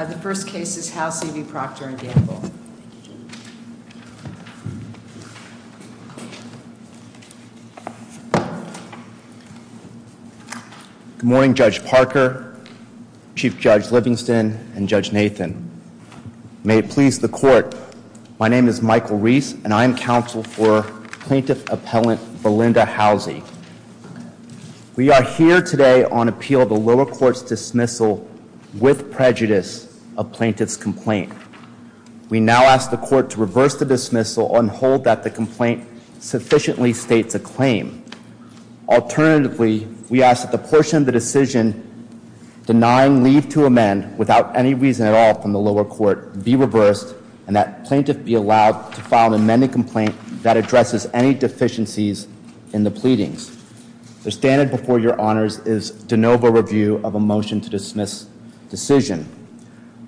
The first case is Housey v. Procter & Gamble. Good morning, Judge Parker, Chief Judge Livingston, and Judge Nathan. May it please the court, my name is Michael Reese, and I am counsel for Plaintiff Appellant Belinda Housey. We are here today on appeal of the lower court's dismissal with prejudice of plaintiff's complaint. We now ask the court to reverse the dismissal and hold that the complaint sufficiently states a claim. Alternatively, we ask that the portion of the decision denying leave to amend without any reason at all from the lower court be reversed, and that plaintiff be allowed to file an amended complaint that addresses any deficiencies in the pleadings. The standard before your honors is de novo review of a motion to dismiss decision.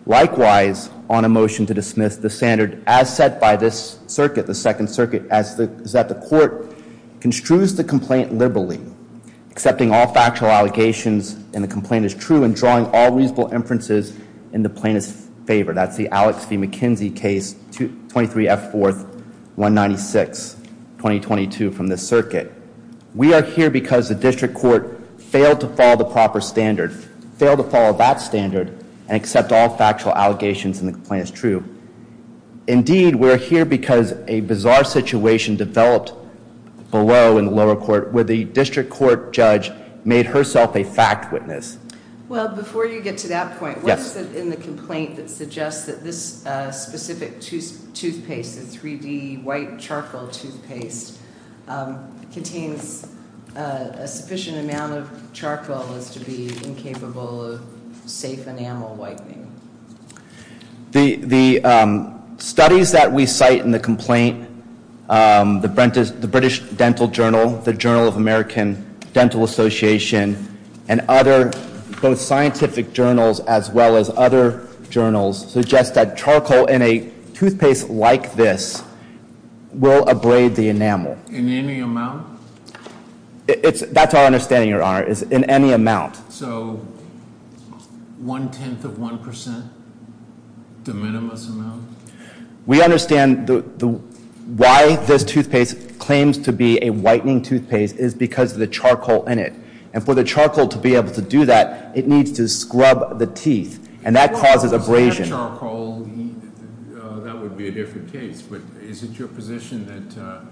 Likewise, on a motion to dismiss, the standard as set by this circuit, the Second Circuit, is that the court construes the complaint liberally, accepting all factual allegations and the complaint is true, and drawing all reasonable inferences in the plaintiff's favor. That's the Alex v. McKenzie case, 23 F. 4th, 196, 2022 from this circuit. We are here because the district court failed to follow the proper standard, failed to follow that standard and accept all factual allegations and the complaint is true. Indeed, we're here because a bizarre situation developed below in the lower court where the district court judge made herself a fact witness. Well, before you get to that point, what is it in the complaint that suggests that this specific toothpaste, the 3D white charcoal toothpaste, contains a sufficient amount of charcoal as to be incapable of safe enamel whitening? The studies that we cite in the complaint, the British Dental Journal, the Journal of American Dental Association, and other, both scientific journals as well as other journals, suggest that charcoal in a toothpaste like this will abrade the enamel. In any amount? That's our understanding, Your Honor, is in any amount. So, one-tenth of one percent, the minimum amount? We understand why this toothpaste claims to be a whitening toothpaste is because of the charcoal in it. And for the charcoal to be able to do that, it needs to scrub the teeth, and that causes abrasion. That charcoal, that would be a different case. But is it your position that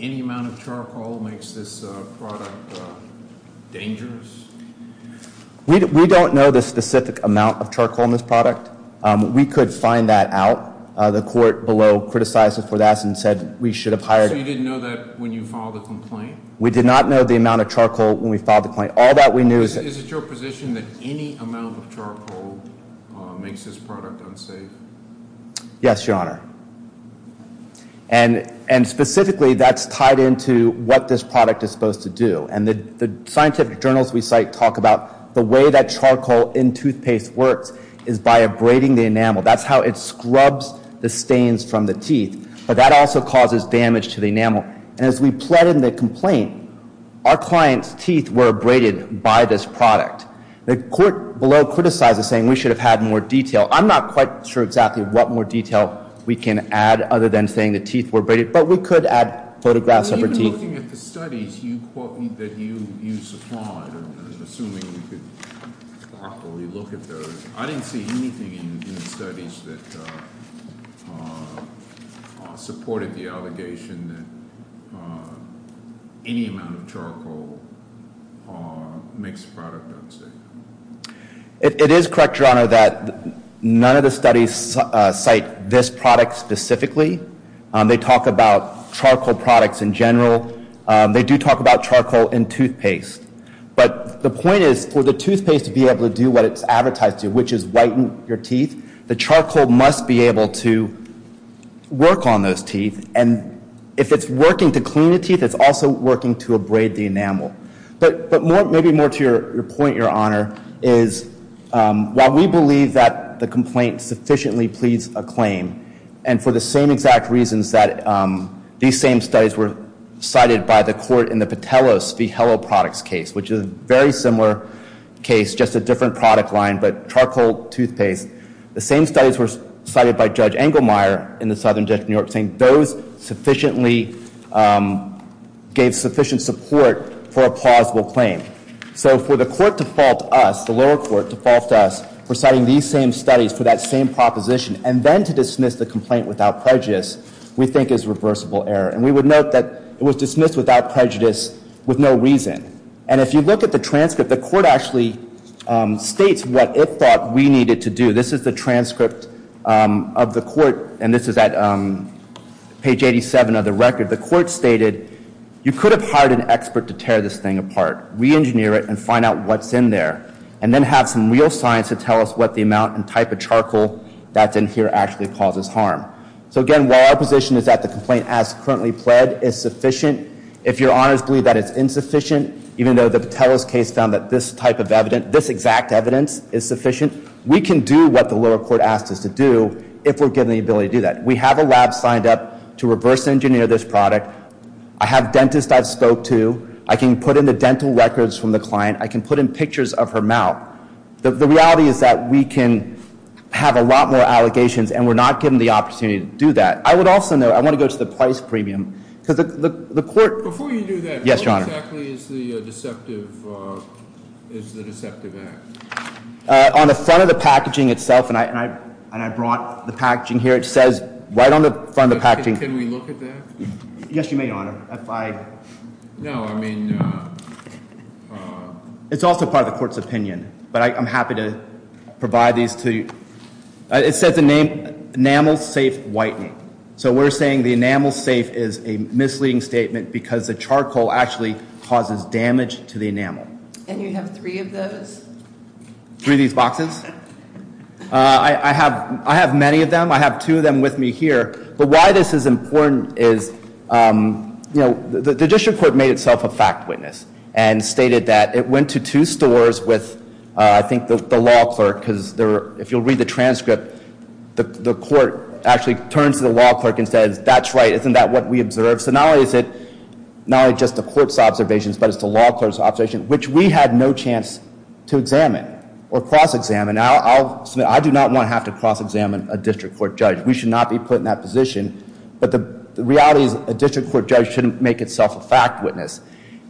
any amount of charcoal makes this product dangerous? We don't know the specific amount of charcoal in this product. We could find that out. The court below criticized us for that and said we should have hired- So you didn't know that when you filed the complaint? We did not know the amount of charcoal when we filed the complaint. All that we knew is- Is it your position that any amount of charcoal makes this product unsafe? Yes, Your Honor. And specifically, that's tied into what this product is supposed to do. And the scientific journals we cite talk about the way that charcoal in toothpaste works is by abrading the enamel. That's how it scrubs the stains from the teeth. But that also causes damage to the enamel. And as we plead in the complaint, our client's teeth were abraded by this product. The court below criticized us, saying we should have had more detail. I'm not quite sure exactly what more detail we can add, other than saying the teeth were abraded. But we could add photographs of her teeth. Looking at the studies that you supplied, assuming we could properly look at those, I didn't see anything in the studies that supported the allegation that any amount of charcoal makes the product unsafe. It is correct, Your Honor, that none of the studies cite this product specifically. They talk about charcoal products in general. They do talk about charcoal in toothpaste. But the point is, for the toothpaste to be able to do what it's advertised to, which is whiten your teeth, the charcoal must be able to work on those teeth. And if it's working to clean the teeth, it's also working to abrade the enamel. But maybe more to your point, Your Honor, is while we believe that the complaint sufficiently pleads a claim, and for the same exact reasons that these same studies were cited by the court in the Patelos v. Hello Products case, which is a very similar case, just a different product line, but charcoal toothpaste, the same studies were cited by Judge Engelmeyer in the Southern District of New York, saying those sufficiently gave sufficient support for a plausible claim. So for the court to fault us, the lower court to fault us for citing these same studies for that same proposition, and then to dismiss the complaint without prejudice, we think is reversible error. And we would note that it was dismissed without prejudice with no reason. And if you look at the transcript, the court actually states what it thought we needed to do. This is the transcript of the court, and this is at page 87 of the record. The court stated, you could have hired an expert to tear this thing apart, re-engineer it and find out what's in there, and then have some real science to tell us what the amount and type of charcoal that's in here actually causes harm. So again, while our position is that the complaint as currently pled is sufficient, if your honors believe that it's insufficient, even though the Patelos case found that this type of evidence, this exact evidence is sufficient, we can do what the lower court asked us to do if we're given the ability to do that. We have a lab signed up to reverse engineer this product. I have dentists I've spoke to. I can put in the dental records from the client. I can put in pictures of her mouth. The reality is that we can have a lot more allegations, and we're not given the opportunity to do that. I would also note, I want to go to the price premium, because the court- Before you do that- Yes, your honor. What exactly is the deceptive act? On the front of the packaging itself, and I brought the packaging here, it says right on the front of the packaging- Can we look at that? Yes, you may, your honor. No, I mean- It's also part of the court's opinion, but I'm happy to provide these to you. It says the name, enamel safe whitening. So we're saying the enamel safe is a misleading statement because the charcoal actually causes damage to the enamel. And you have three of those? Three of these boxes? I have many of them. I have two of them with me here. But why this is important is, you know, the district court made itself a fact witness and stated that it went to two stores with, I think, the law clerk, because if you'll read the transcript, the court actually turns to the law clerk and says, that's right, isn't that what we observed? So not only is it just the court's observations, but it's the law clerk's observations, which we had no chance to examine or cross-examine. I do not want to have to cross-examine a district court judge. We should not be put in that position. But the reality is, a district court judge shouldn't make itself a fact witness.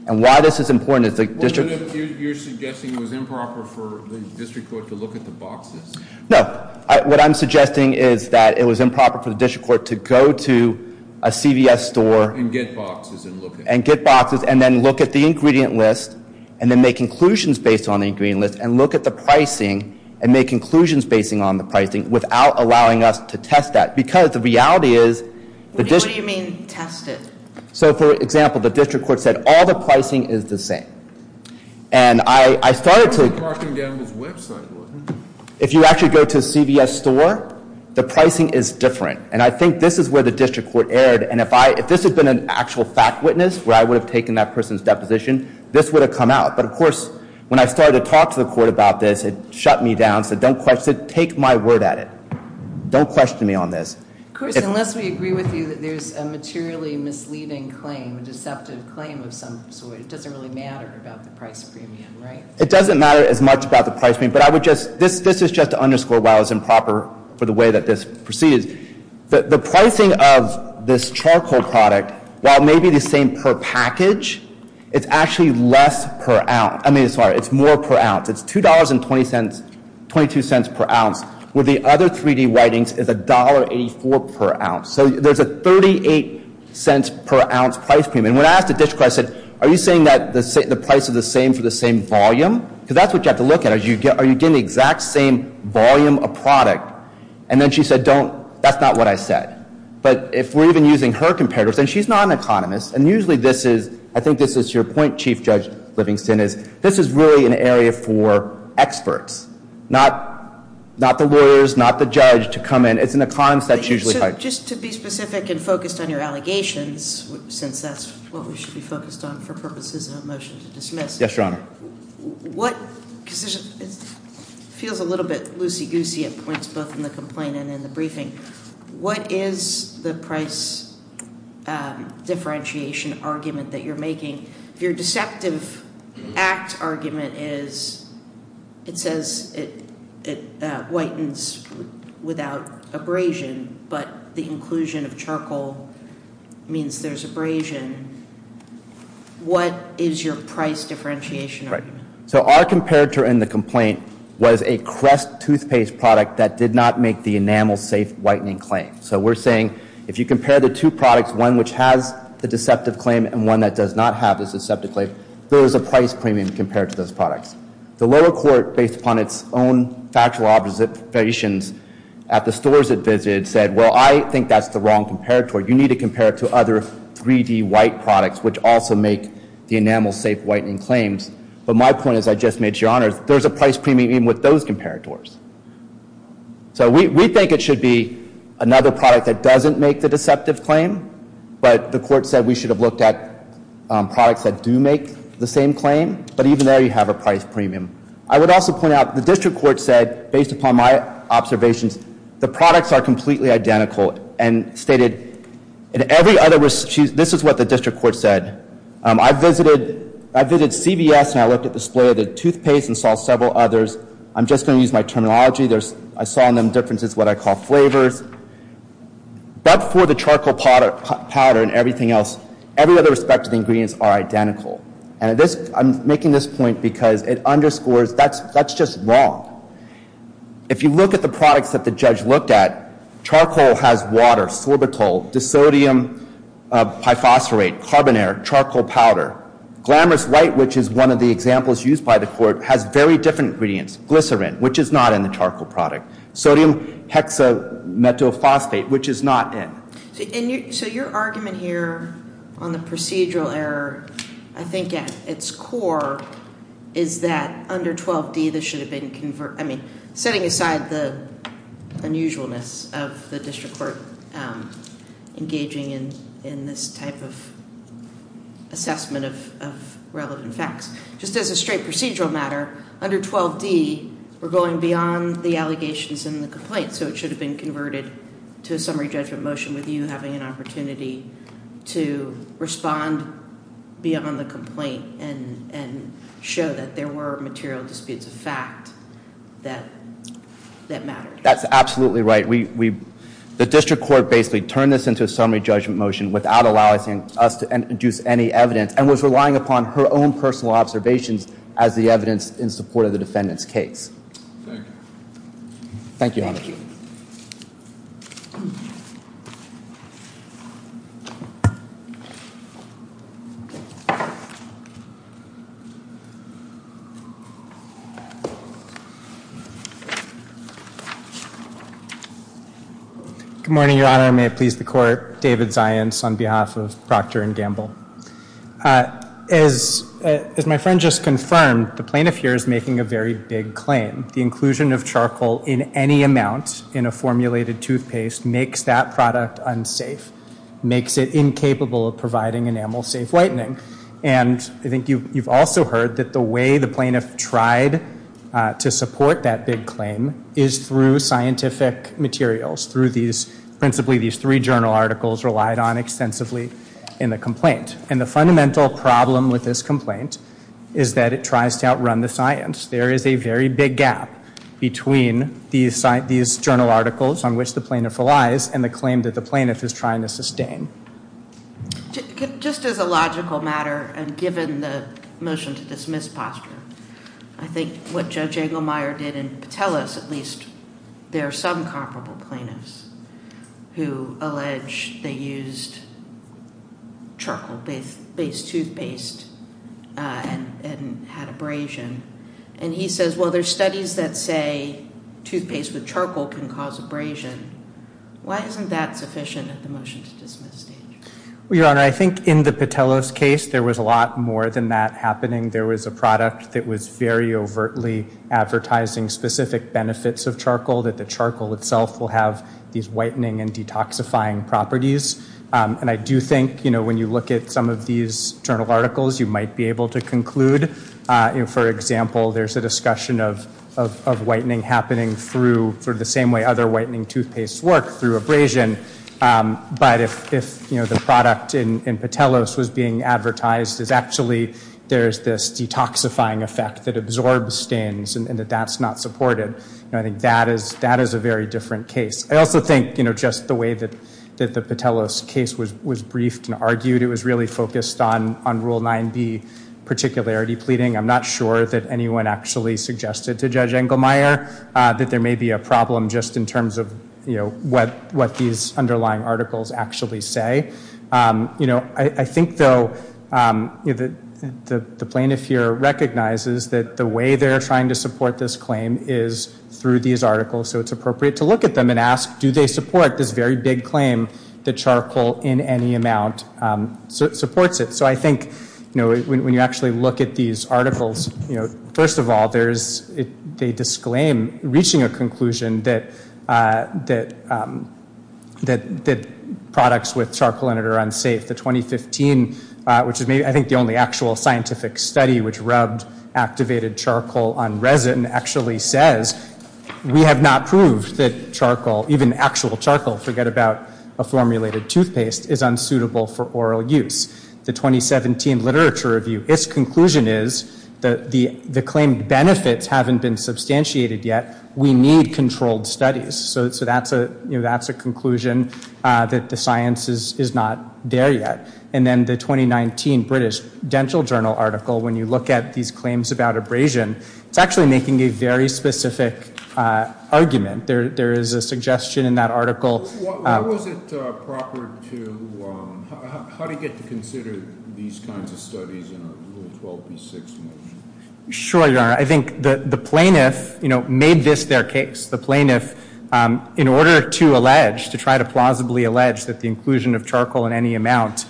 And why this is important is the district court- Well, then you're suggesting it was improper for the district court to look at the boxes. No. What I'm suggesting is that it was improper for the district court to go to a CVS store- And get boxes and look at them. And get boxes and then look at the ingredient list and then make conclusions based on the ingredient list and look at the pricing and make conclusions based on the pricing without allowing us to test that. Because the reality is- What do you mean, test it? So, for example, the district court said, all the pricing is the same. And I started to- Mark him down on his website. If you actually go to a CVS store, the pricing is different. And I think this is where the district court erred. And if this had been an actual fact witness, where I would have taken that person's deposition, this would have come out. But, of course, when I started to talk to the court about this, it shut me down. It said, take my word at it. Don't question me on this. Of course, unless we agree with you that there's a materially misleading claim, a deceptive claim of some sort. It doesn't really matter about the price premium, right? It doesn't matter as much about the price premium. But I would just- This is just to underscore why it was improper for the way that this proceeded. The pricing of this charcoal product, while maybe the same per package, it's actually less per ounce. I mean, sorry, it's more per ounce. It's $2.22 per ounce. With the other 3D whitings, it's $1.84 per ounce. So there's a $0.38 per ounce price premium. And when I asked the district court, I said, are you saying that the price is the same for the same volume? Because that's what you have to look at. Are you getting the exact same volume of product? And then she said, don't, that's not what I said. But if we're even using her comparators, and she's not an economist, and usually this is, I think this is your point, Chief Judge Livingston, is this is really an area for experts. Not the lawyers, not the judge to come in. It's an economist that's usually- Just to be specific and focused on your allegations, since that's what we should be focused on for purposes of a motion to dismiss. Yes, Your Honor. What, because it feels a little bit loosey-goosey at points both in the complaint and in the briefing. What is the price differentiation argument that you're making? If your deceptive act argument is, it says it whitens without abrasion, but the inclusion of charcoal means there's abrasion. What is your price differentiation argument? So our comparator in the complaint was a Crest toothpaste product that did not make the enamel safe whitening claim. So we're saying, if you compare the two products, one which has the deceptive claim and one that does not have the deceptive claim, there is a price premium compared to those products. The lower court, based upon its own factual observations at the stores it visited, said, well, I think that's the wrong comparator. You need to compare it to other 3D white products, which also make the enamel safe whitening claims. But my point is, I just made, Your Honor, there's a price premium with those comparators. So we think it should be another product that doesn't make the deceptive claim, but the court said we should have looked at products that do make the same claim. But even there, you have a price premium. I would also point out, the district court said, based upon my observations, the products are completely identical and stated, in every other, this is what the district court said, I visited CVS and I looked at the display of the toothpaste and saw several others. I'm just going to use my terminology. I saw in them differences in what I call flavors. But for the charcoal powder and everything else, every other respective ingredients are identical. And I'm making this point because it underscores, that's just wrong. If you look at the products that the judge looked at, charcoal has water, sorbital, disodium, pyphosphorate, carbon air, charcoal powder. Glamorous white, which is one of the examples used by the court, has very different ingredients. Glycerin, which is not in the charcoal product. Sodium hexamethylphosphate, which is not in. So your argument here on the procedural error, I think at its core, is that under 12D, this should have been converted. I mean, setting aside the unusualness of the district court engaging in this type of assessment of relevant facts. Just as a straight procedural matter, under 12D, we're going beyond the allegations and the complaints. So it should have been converted to a summary judgment motion with you having an opportunity to respond beyond the complaint and show that there were material disputes of fact that mattered. That's absolutely right. The district court basically turned this into a summary judgment motion without allowing us to introduce any evidence. And was relying upon her own personal observations as the evidence in support of the defendant's case. Thank you. Thank you, Your Honor. Good morning, Your Honor. May it please the court. David Zients on behalf of Procter & Gamble. As my friend just confirmed, the plaintiff here is making a very big claim. The inclusion of charcoal in any amount in a formulated toothpaste makes that product unsafe. Makes it incapable of providing enamel safe whitening. And I think you've also heard that the way the plaintiff tried to support that big claim is through scientific materials. Through these, principally these three journal articles relied on extensively in the complaint. And the fundamental problem with this complaint is that it tries to outrun the science. There is a very big gap between these journal articles on which the plaintiff relies and the claim that the plaintiff is trying to sustain. Just as a logical matter, and given the motion to dismiss posture, I think what Judge Engelmeyer did in Patelis, at least there are some comparable plaintiffs who allege they used charcoal-based toothpaste and had abrasion. And he says, well, there are studies that say toothpaste with charcoal can cause abrasion. Why isn't that sufficient at the motion to dismiss stage? Well, Your Honor, I think in the Patelis case, there was a lot more than that happening. There was a product that was very overtly advertising specific benefits of charcoal, that the charcoal itself will have these whitening and detoxifying properties. And I do think when you look at some of these journal articles, you might be able to conclude, for example, there's a discussion of whitening happening through the same way other whitening toothpastes work, through abrasion. But if the product in Patelis was being advertised as actually there's this detoxifying effect that absorbs stains and that that's not supported, I think that is a very different case. I also think just the way that the Patelis case was briefed and argued, it was really focused on Rule 9B particularity pleading. I'm not sure that anyone actually suggested to Judge Engelmeyer that there may be a problem just in terms of what these underlying articles actually say. I think, though, the plaintiff here recognizes that the way they're trying to support this claim is through these articles, so it's appropriate to look at them and ask, do they support this very big claim that charcoal in any amount supports it? So I think when you actually look at these articles, first of all, they disclaim reaching a conclusion that products with charcoal in it are unsafe. The 2015, which is I think the only actual scientific study which rubbed activated charcoal on resin, actually says we have not proved that charcoal, even actual charcoal, forget about a formulated toothpaste, is unsuitable for oral use. The 2017 literature review, its conclusion is the claimed benefits haven't been substantiated yet. We need controlled studies. So that's a conclusion that the science is not there yet. And then the 2019 British Dental Journal article, when you look at these claims about abrasion, it's actually making a very specific argument. There is a suggestion in that article. What was it proper to – how do you get to consider these kinds of studies in a Rule 12b6 motion? Sure, Your Honor. I think the plaintiff made this their case. The plaintiff, in order to allege, to try to plausibly allege that the inclusion of charcoal in any amount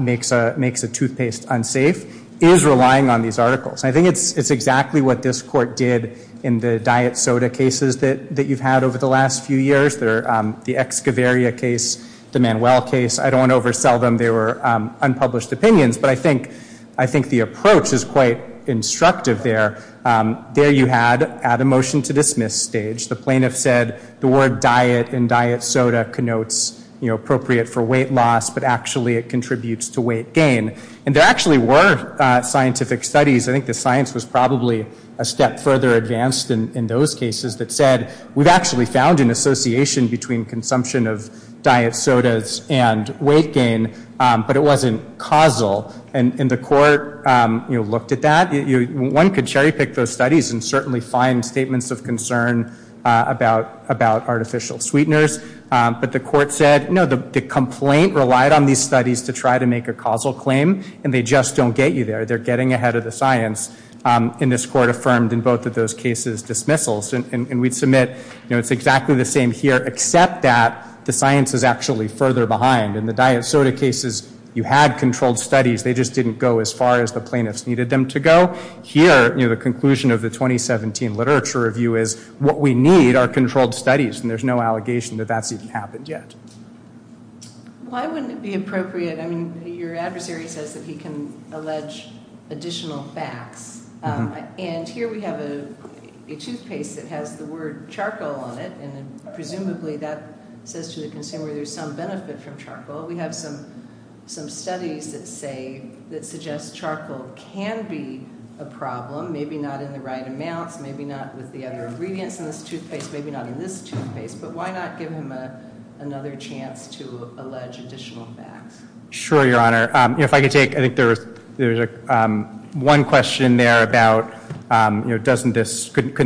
makes a toothpaste unsafe, is relying on these articles. I think it's exactly what this court did in the diet soda cases that you've had over the last few years, the Excavaria case, the Manuel case. I don't want to oversell them. They were unpublished opinions. But I think the approach is quite instructive there. There you had, add a motion to dismiss stage. The plaintiff said the word diet and diet soda connotes appropriate for weight loss, but actually it contributes to weight gain. And there actually were scientific studies. I think the science was probably a step further advanced in those cases that said, we've actually found an association between consumption of diet sodas and weight gain, but it wasn't causal. And the court looked at that. One could cherry pick those studies and certainly find statements of concern about artificial sweeteners. But the court said, no, the complaint relied on these studies to try to make a causal claim, and they just don't get you there. They're getting ahead of the science. And this court affirmed in both of those cases dismissals. And we submit it's exactly the same here, except that the science is actually further behind. In the diet soda cases, you had controlled studies. They just didn't go as far as the plaintiffs needed them to go. Here, the conclusion of the 2017 literature review is what we need are controlled studies, and there's no allegation that that's even happened yet. Why wouldn't it be appropriate? I mean, your adversary says that he can allege additional facts. And here we have a toothpaste that has the word charcoal on it, and presumably that says to the consumer there's some benefit from charcoal. We have some studies that suggest charcoal can be a problem, maybe not in the right amounts, maybe not with the other ingredients in this toothpaste, maybe not in this toothpaste. But why not give him another chance to allege additional facts? Sure, Your Honor. If I could take, I think there was one question there about couldn't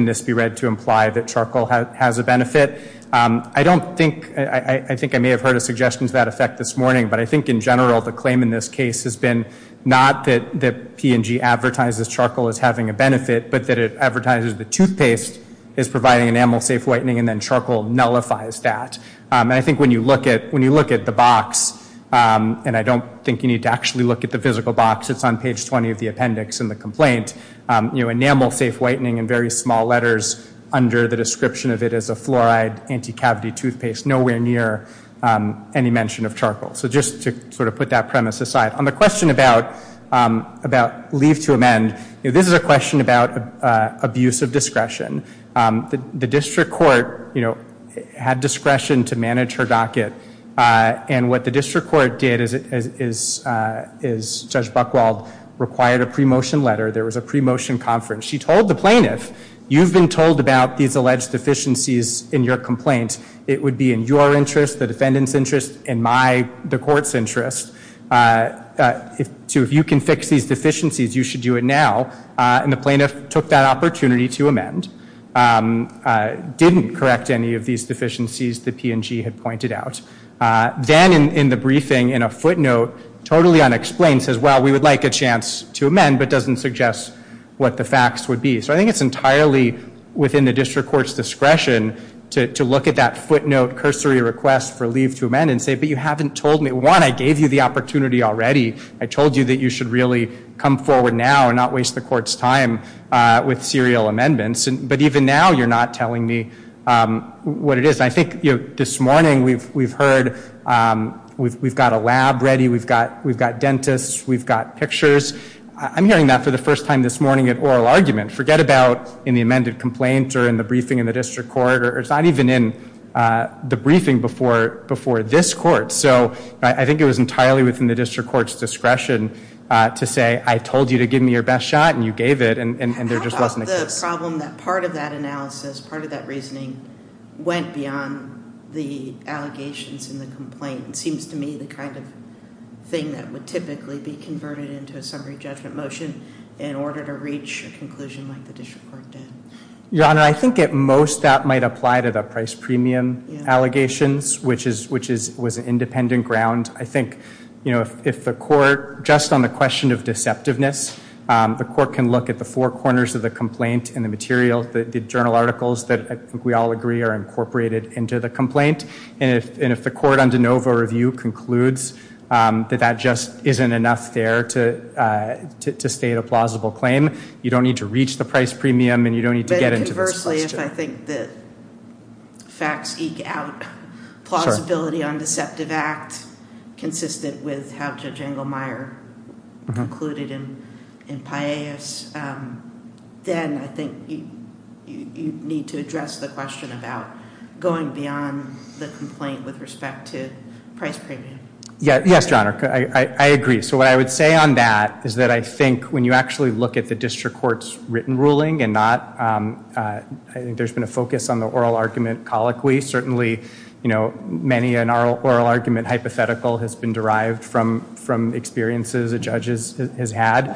this be read to imply that charcoal has a benefit? I don't think, I think I may have heard a suggestion to that effect this morning, but I think in general the claim in this case has been not that P&G advertises charcoal as having a benefit, but that it advertises the toothpaste is providing enamel safe whitening and then charcoal nullifies that. And I think when you look at the box, and I don't think you need to actually look at the physical box, it's on page 20 of the appendix in the complaint, enamel safe whitening in very small letters under the description of it as a fluoride anti-cavity toothpaste, nowhere near any mention of charcoal. So just to sort of put that premise aside. On the question about leave to amend, this is a question about abuse of discretion. The district court had discretion to manage her docket, and what the district court did is Judge Buchwald required a pre-motion letter. There was a pre-motion conference. She told the plaintiff, you've been told about these alleged deficiencies in your complaint. It would be in your interest, the defendant's interest, and my, the court's interest. So if you can fix these deficiencies, you should do it now. And the plaintiff took that opportunity to amend. Didn't correct any of these deficiencies that P&G had pointed out. Then in the briefing in a footnote, totally unexplained, says, well, we would like a chance to amend, but doesn't suggest what the facts would be. So I think it's entirely within the district court's discretion to look at that footnote cursory request for leave to amend and say, but you haven't told me. One, I gave you the opportunity already. I told you that you should really come forward now and not waste the court's time with serial amendments. But even now you're not telling me what it is. I think this morning we've heard we've got a lab ready. We've got dentists. We've got pictures. I'm hearing that for the first time this morning at oral argument. Forget about in the amended complaint or in the briefing in the district court, or it's not even in the briefing before this court. So I think it was entirely within the district court's discretion to say, I told you to give me your best shot and you gave it, and there just wasn't a case. How about the problem that part of that analysis, part of that reasoning, went beyond the allegations in the complaint? It seems to me the kind of thing that would typically be converted into a summary judgment motion in order to reach a conclusion like the district court did. Your Honor, I think at most that might apply to the price premium allegations, which was an independent ground. I think if the court, just on the question of deceptiveness, the court can look at the four corners of the complaint and the material, the journal articles that I think we all agree are incorporated into the complaint. And if the court on de novo review concludes that that just isn't enough there to state a plausible claim, you don't need to reach the price premium and you don't need to get into this question. And conversely, if I think the facts eke out plausibility on deceptive act, consistent with how Judge Engelmeyer concluded in Paillas, then I think you need to address the question about going beyond the complaint with respect to price premium. Yes, Your Honor. I agree. So what I would say on that is that I think when you actually look at the district court's written ruling and not, I think there's been a focus on the oral argument colloquy. Certainly, many an oral argument hypothetical has been derived from experiences a judge has had.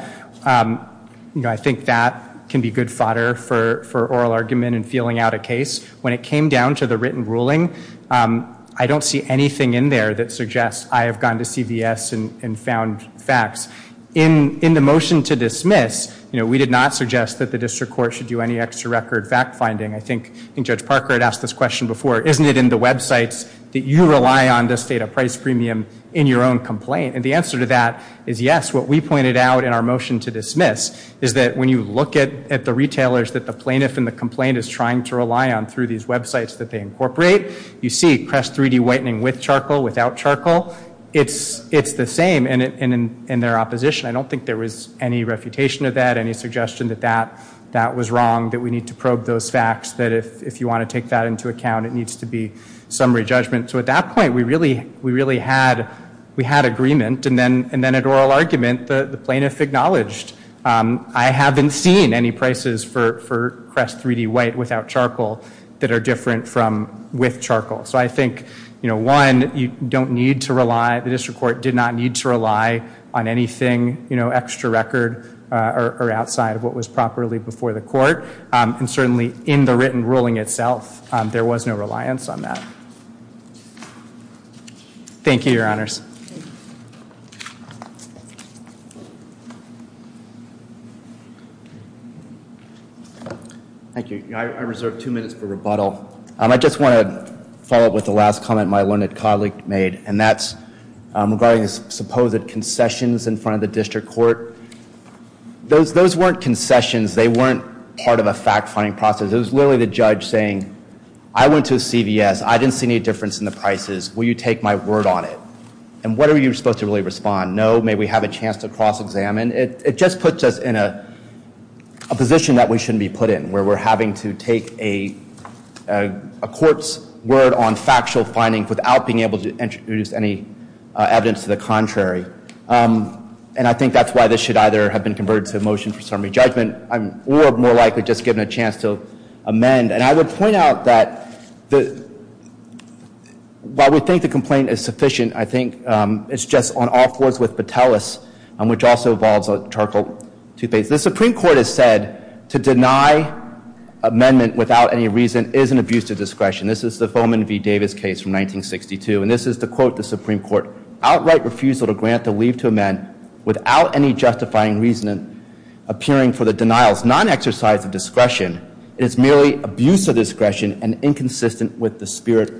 I think that can be good fodder for oral argument and feeling out a case. When it came down to the written ruling, I don't see anything in there that suggests I have gone to CVS and found facts. In the motion to dismiss, we did not suggest that the district court should do any extra record fact finding. I think Judge Parker had asked this question before. Isn't it in the websites that you rely on to state a price premium in your own complaint? And the answer to that is yes. What we pointed out in our motion to dismiss is that when you look at the retailers that the plaintiff and the complaint is trying to rely on through these websites that they incorporate, you see Crest 3D whitening with charcoal, without charcoal. It's the same. And in their opposition, I don't think there was any refutation of that, any suggestion that that was wrong, that we need to probe those facts, that if you want to take that into account, it needs to be summary judgment. So at that point, we really had agreement. And then at oral argument, the plaintiff acknowledged, I haven't seen any prices for Crest 3D white without charcoal that are different with charcoal. So I think, you know, one, you don't need to rely, the district court did not need to rely on anything, you know, extra record or outside of what was properly before the court. And certainly in the written ruling itself, there was no reliance on that. Thank you, Your Honors. Thank you. I reserve two minutes for rebuttal. I just want to follow up with the last comment my learned colleague made, and that's regarding the supposed concessions in front of the district court. Those weren't concessions. They weren't part of a fact-finding process. It was literally the judge saying, I went to a CVS. I didn't see any difference in the prices. Will you take my word on it? And what are you supposed to really respond? No, may we have a chance to cross-examine? It just puts us in a position that we shouldn't be put in, where we're having to take a court's word on factual findings without being able to introduce any evidence to the contrary. And I think that's why this should either have been converted to a motion for summary judgment or more likely just given a chance to amend. And I would point out that while we think the complaint is sufficient, I think it's just on all fours with Patelis, which also involves a charcoal toothpaste. The Supreme Court has said to deny amendment without any reason is an abuse of discretion. This is the Foman v. Davis case from 1962, and this is to quote the Supreme Court, outright refusal to grant the leave to amend without any justifying reason appearing for the denial is non-exercise of discretion. It is merely abuse of discretion and inconsistent with the spirit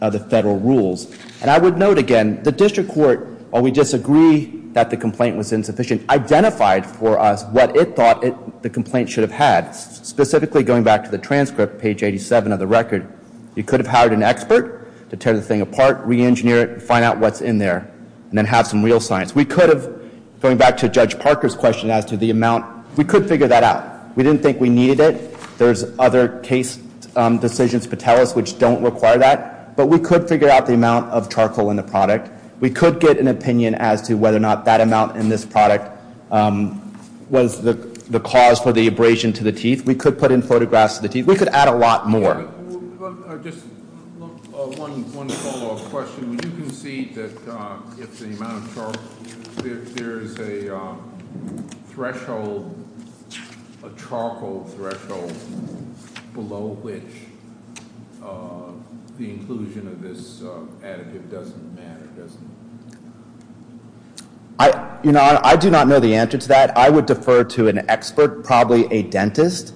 of the federal rules. And I would note again, the district court, while we disagree that the complaint was insufficient, identified for us what it thought the complaint should have had, specifically going back to the transcript, page 87 of the record. You could have hired an expert to tear the thing apart, re-engineer it, find out what's in there, and then have some real science. We could have, going back to Judge Parker's question as to the amount, we could figure that out. We didn't think we needed it. There's other case decisions, Patelis, which don't require that. But we could figure out the amount of charcoal in the product. We could get an opinion as to whether or not that amount in this product was the cause for the abrasion to the teeth. We could put in photographs of the teeth. We could add a lot more. Just one follow-up question. Would you concede that if the amount of charcoal, if there's a threshold, a charcoal threshold below which the inclusion of this additive doesn't matter? I do not know the answer to that. I would defer to an expert, probably a dentist.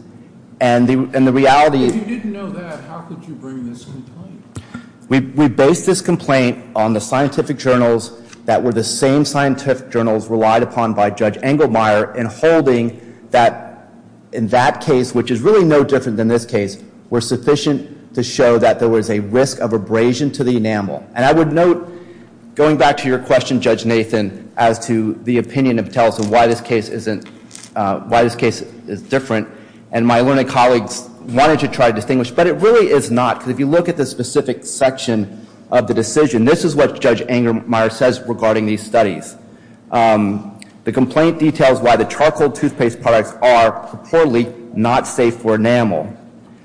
If you didn't know that, how could you bring this complaint? We based this complaint on the scientific journals that were the same scientific journals relied upon by Judge Engelmeyer in holding that in that case, which is really no different than this case, were sufficient to show that there was a risk of abrasion to the enamel. And I would note, going back to your question, Judge Nathan, as to the opinion of Tellus and why this case is different, and my learned colleagues wanted to try to distinguish. But it really is not, because if you look at the specific section of the decision, this is what Judge Engelmeyer says regarding these studies. The complaint details why the charcoal toothpaste products are, purportedly, not safe for enamel,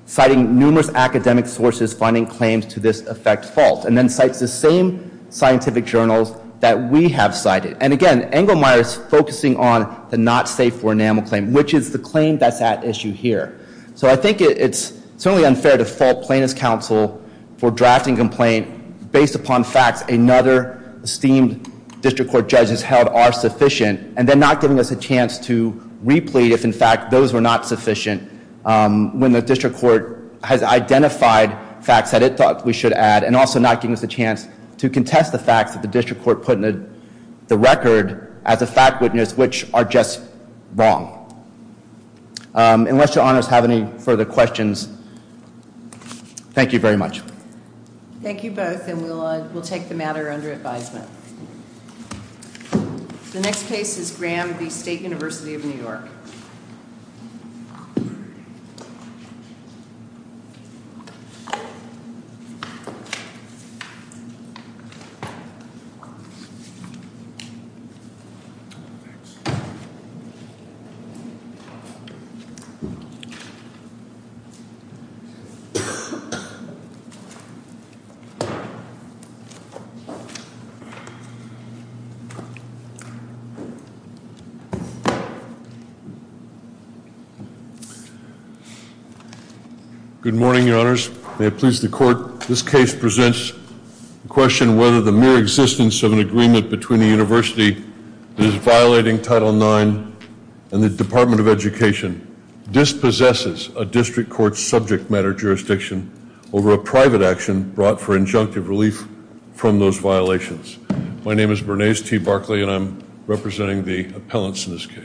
citing numerous academic sources finding claims to this effect false, and then cites the same scientific journals that we have cited. And again, Engelmeyer is focusing on the not safe for enamel claim, which is the claim that's at issue here. So I think it's certainly unfair to fault Plaintiff's Counsel for drafting a complaint based upon facts another esteemed district court judge has held are sufficient, and then not giving us a chance to replete if, in fact, those were not sufficient when the district court has identified facts that it thought we should add and also not giving us a chance to contest the facts that the district court put in the record as a fact witness which are just wrong. Unless your honors have any further questions, thank you very much. Thank you both, and we'll take the matter under advisement. The next case is Graham v. State University of New York. Good morning, your honors. May it please the court, this case presents the question whether the mere existence of an agreement between a university that is violating Title IX and the Department of Education dispossesses a district court's subject matter jurisdiction over a private action brought for injunctive relief from those violations. My name is Bernays T. Barkley, and I'm representing the appellants in this case.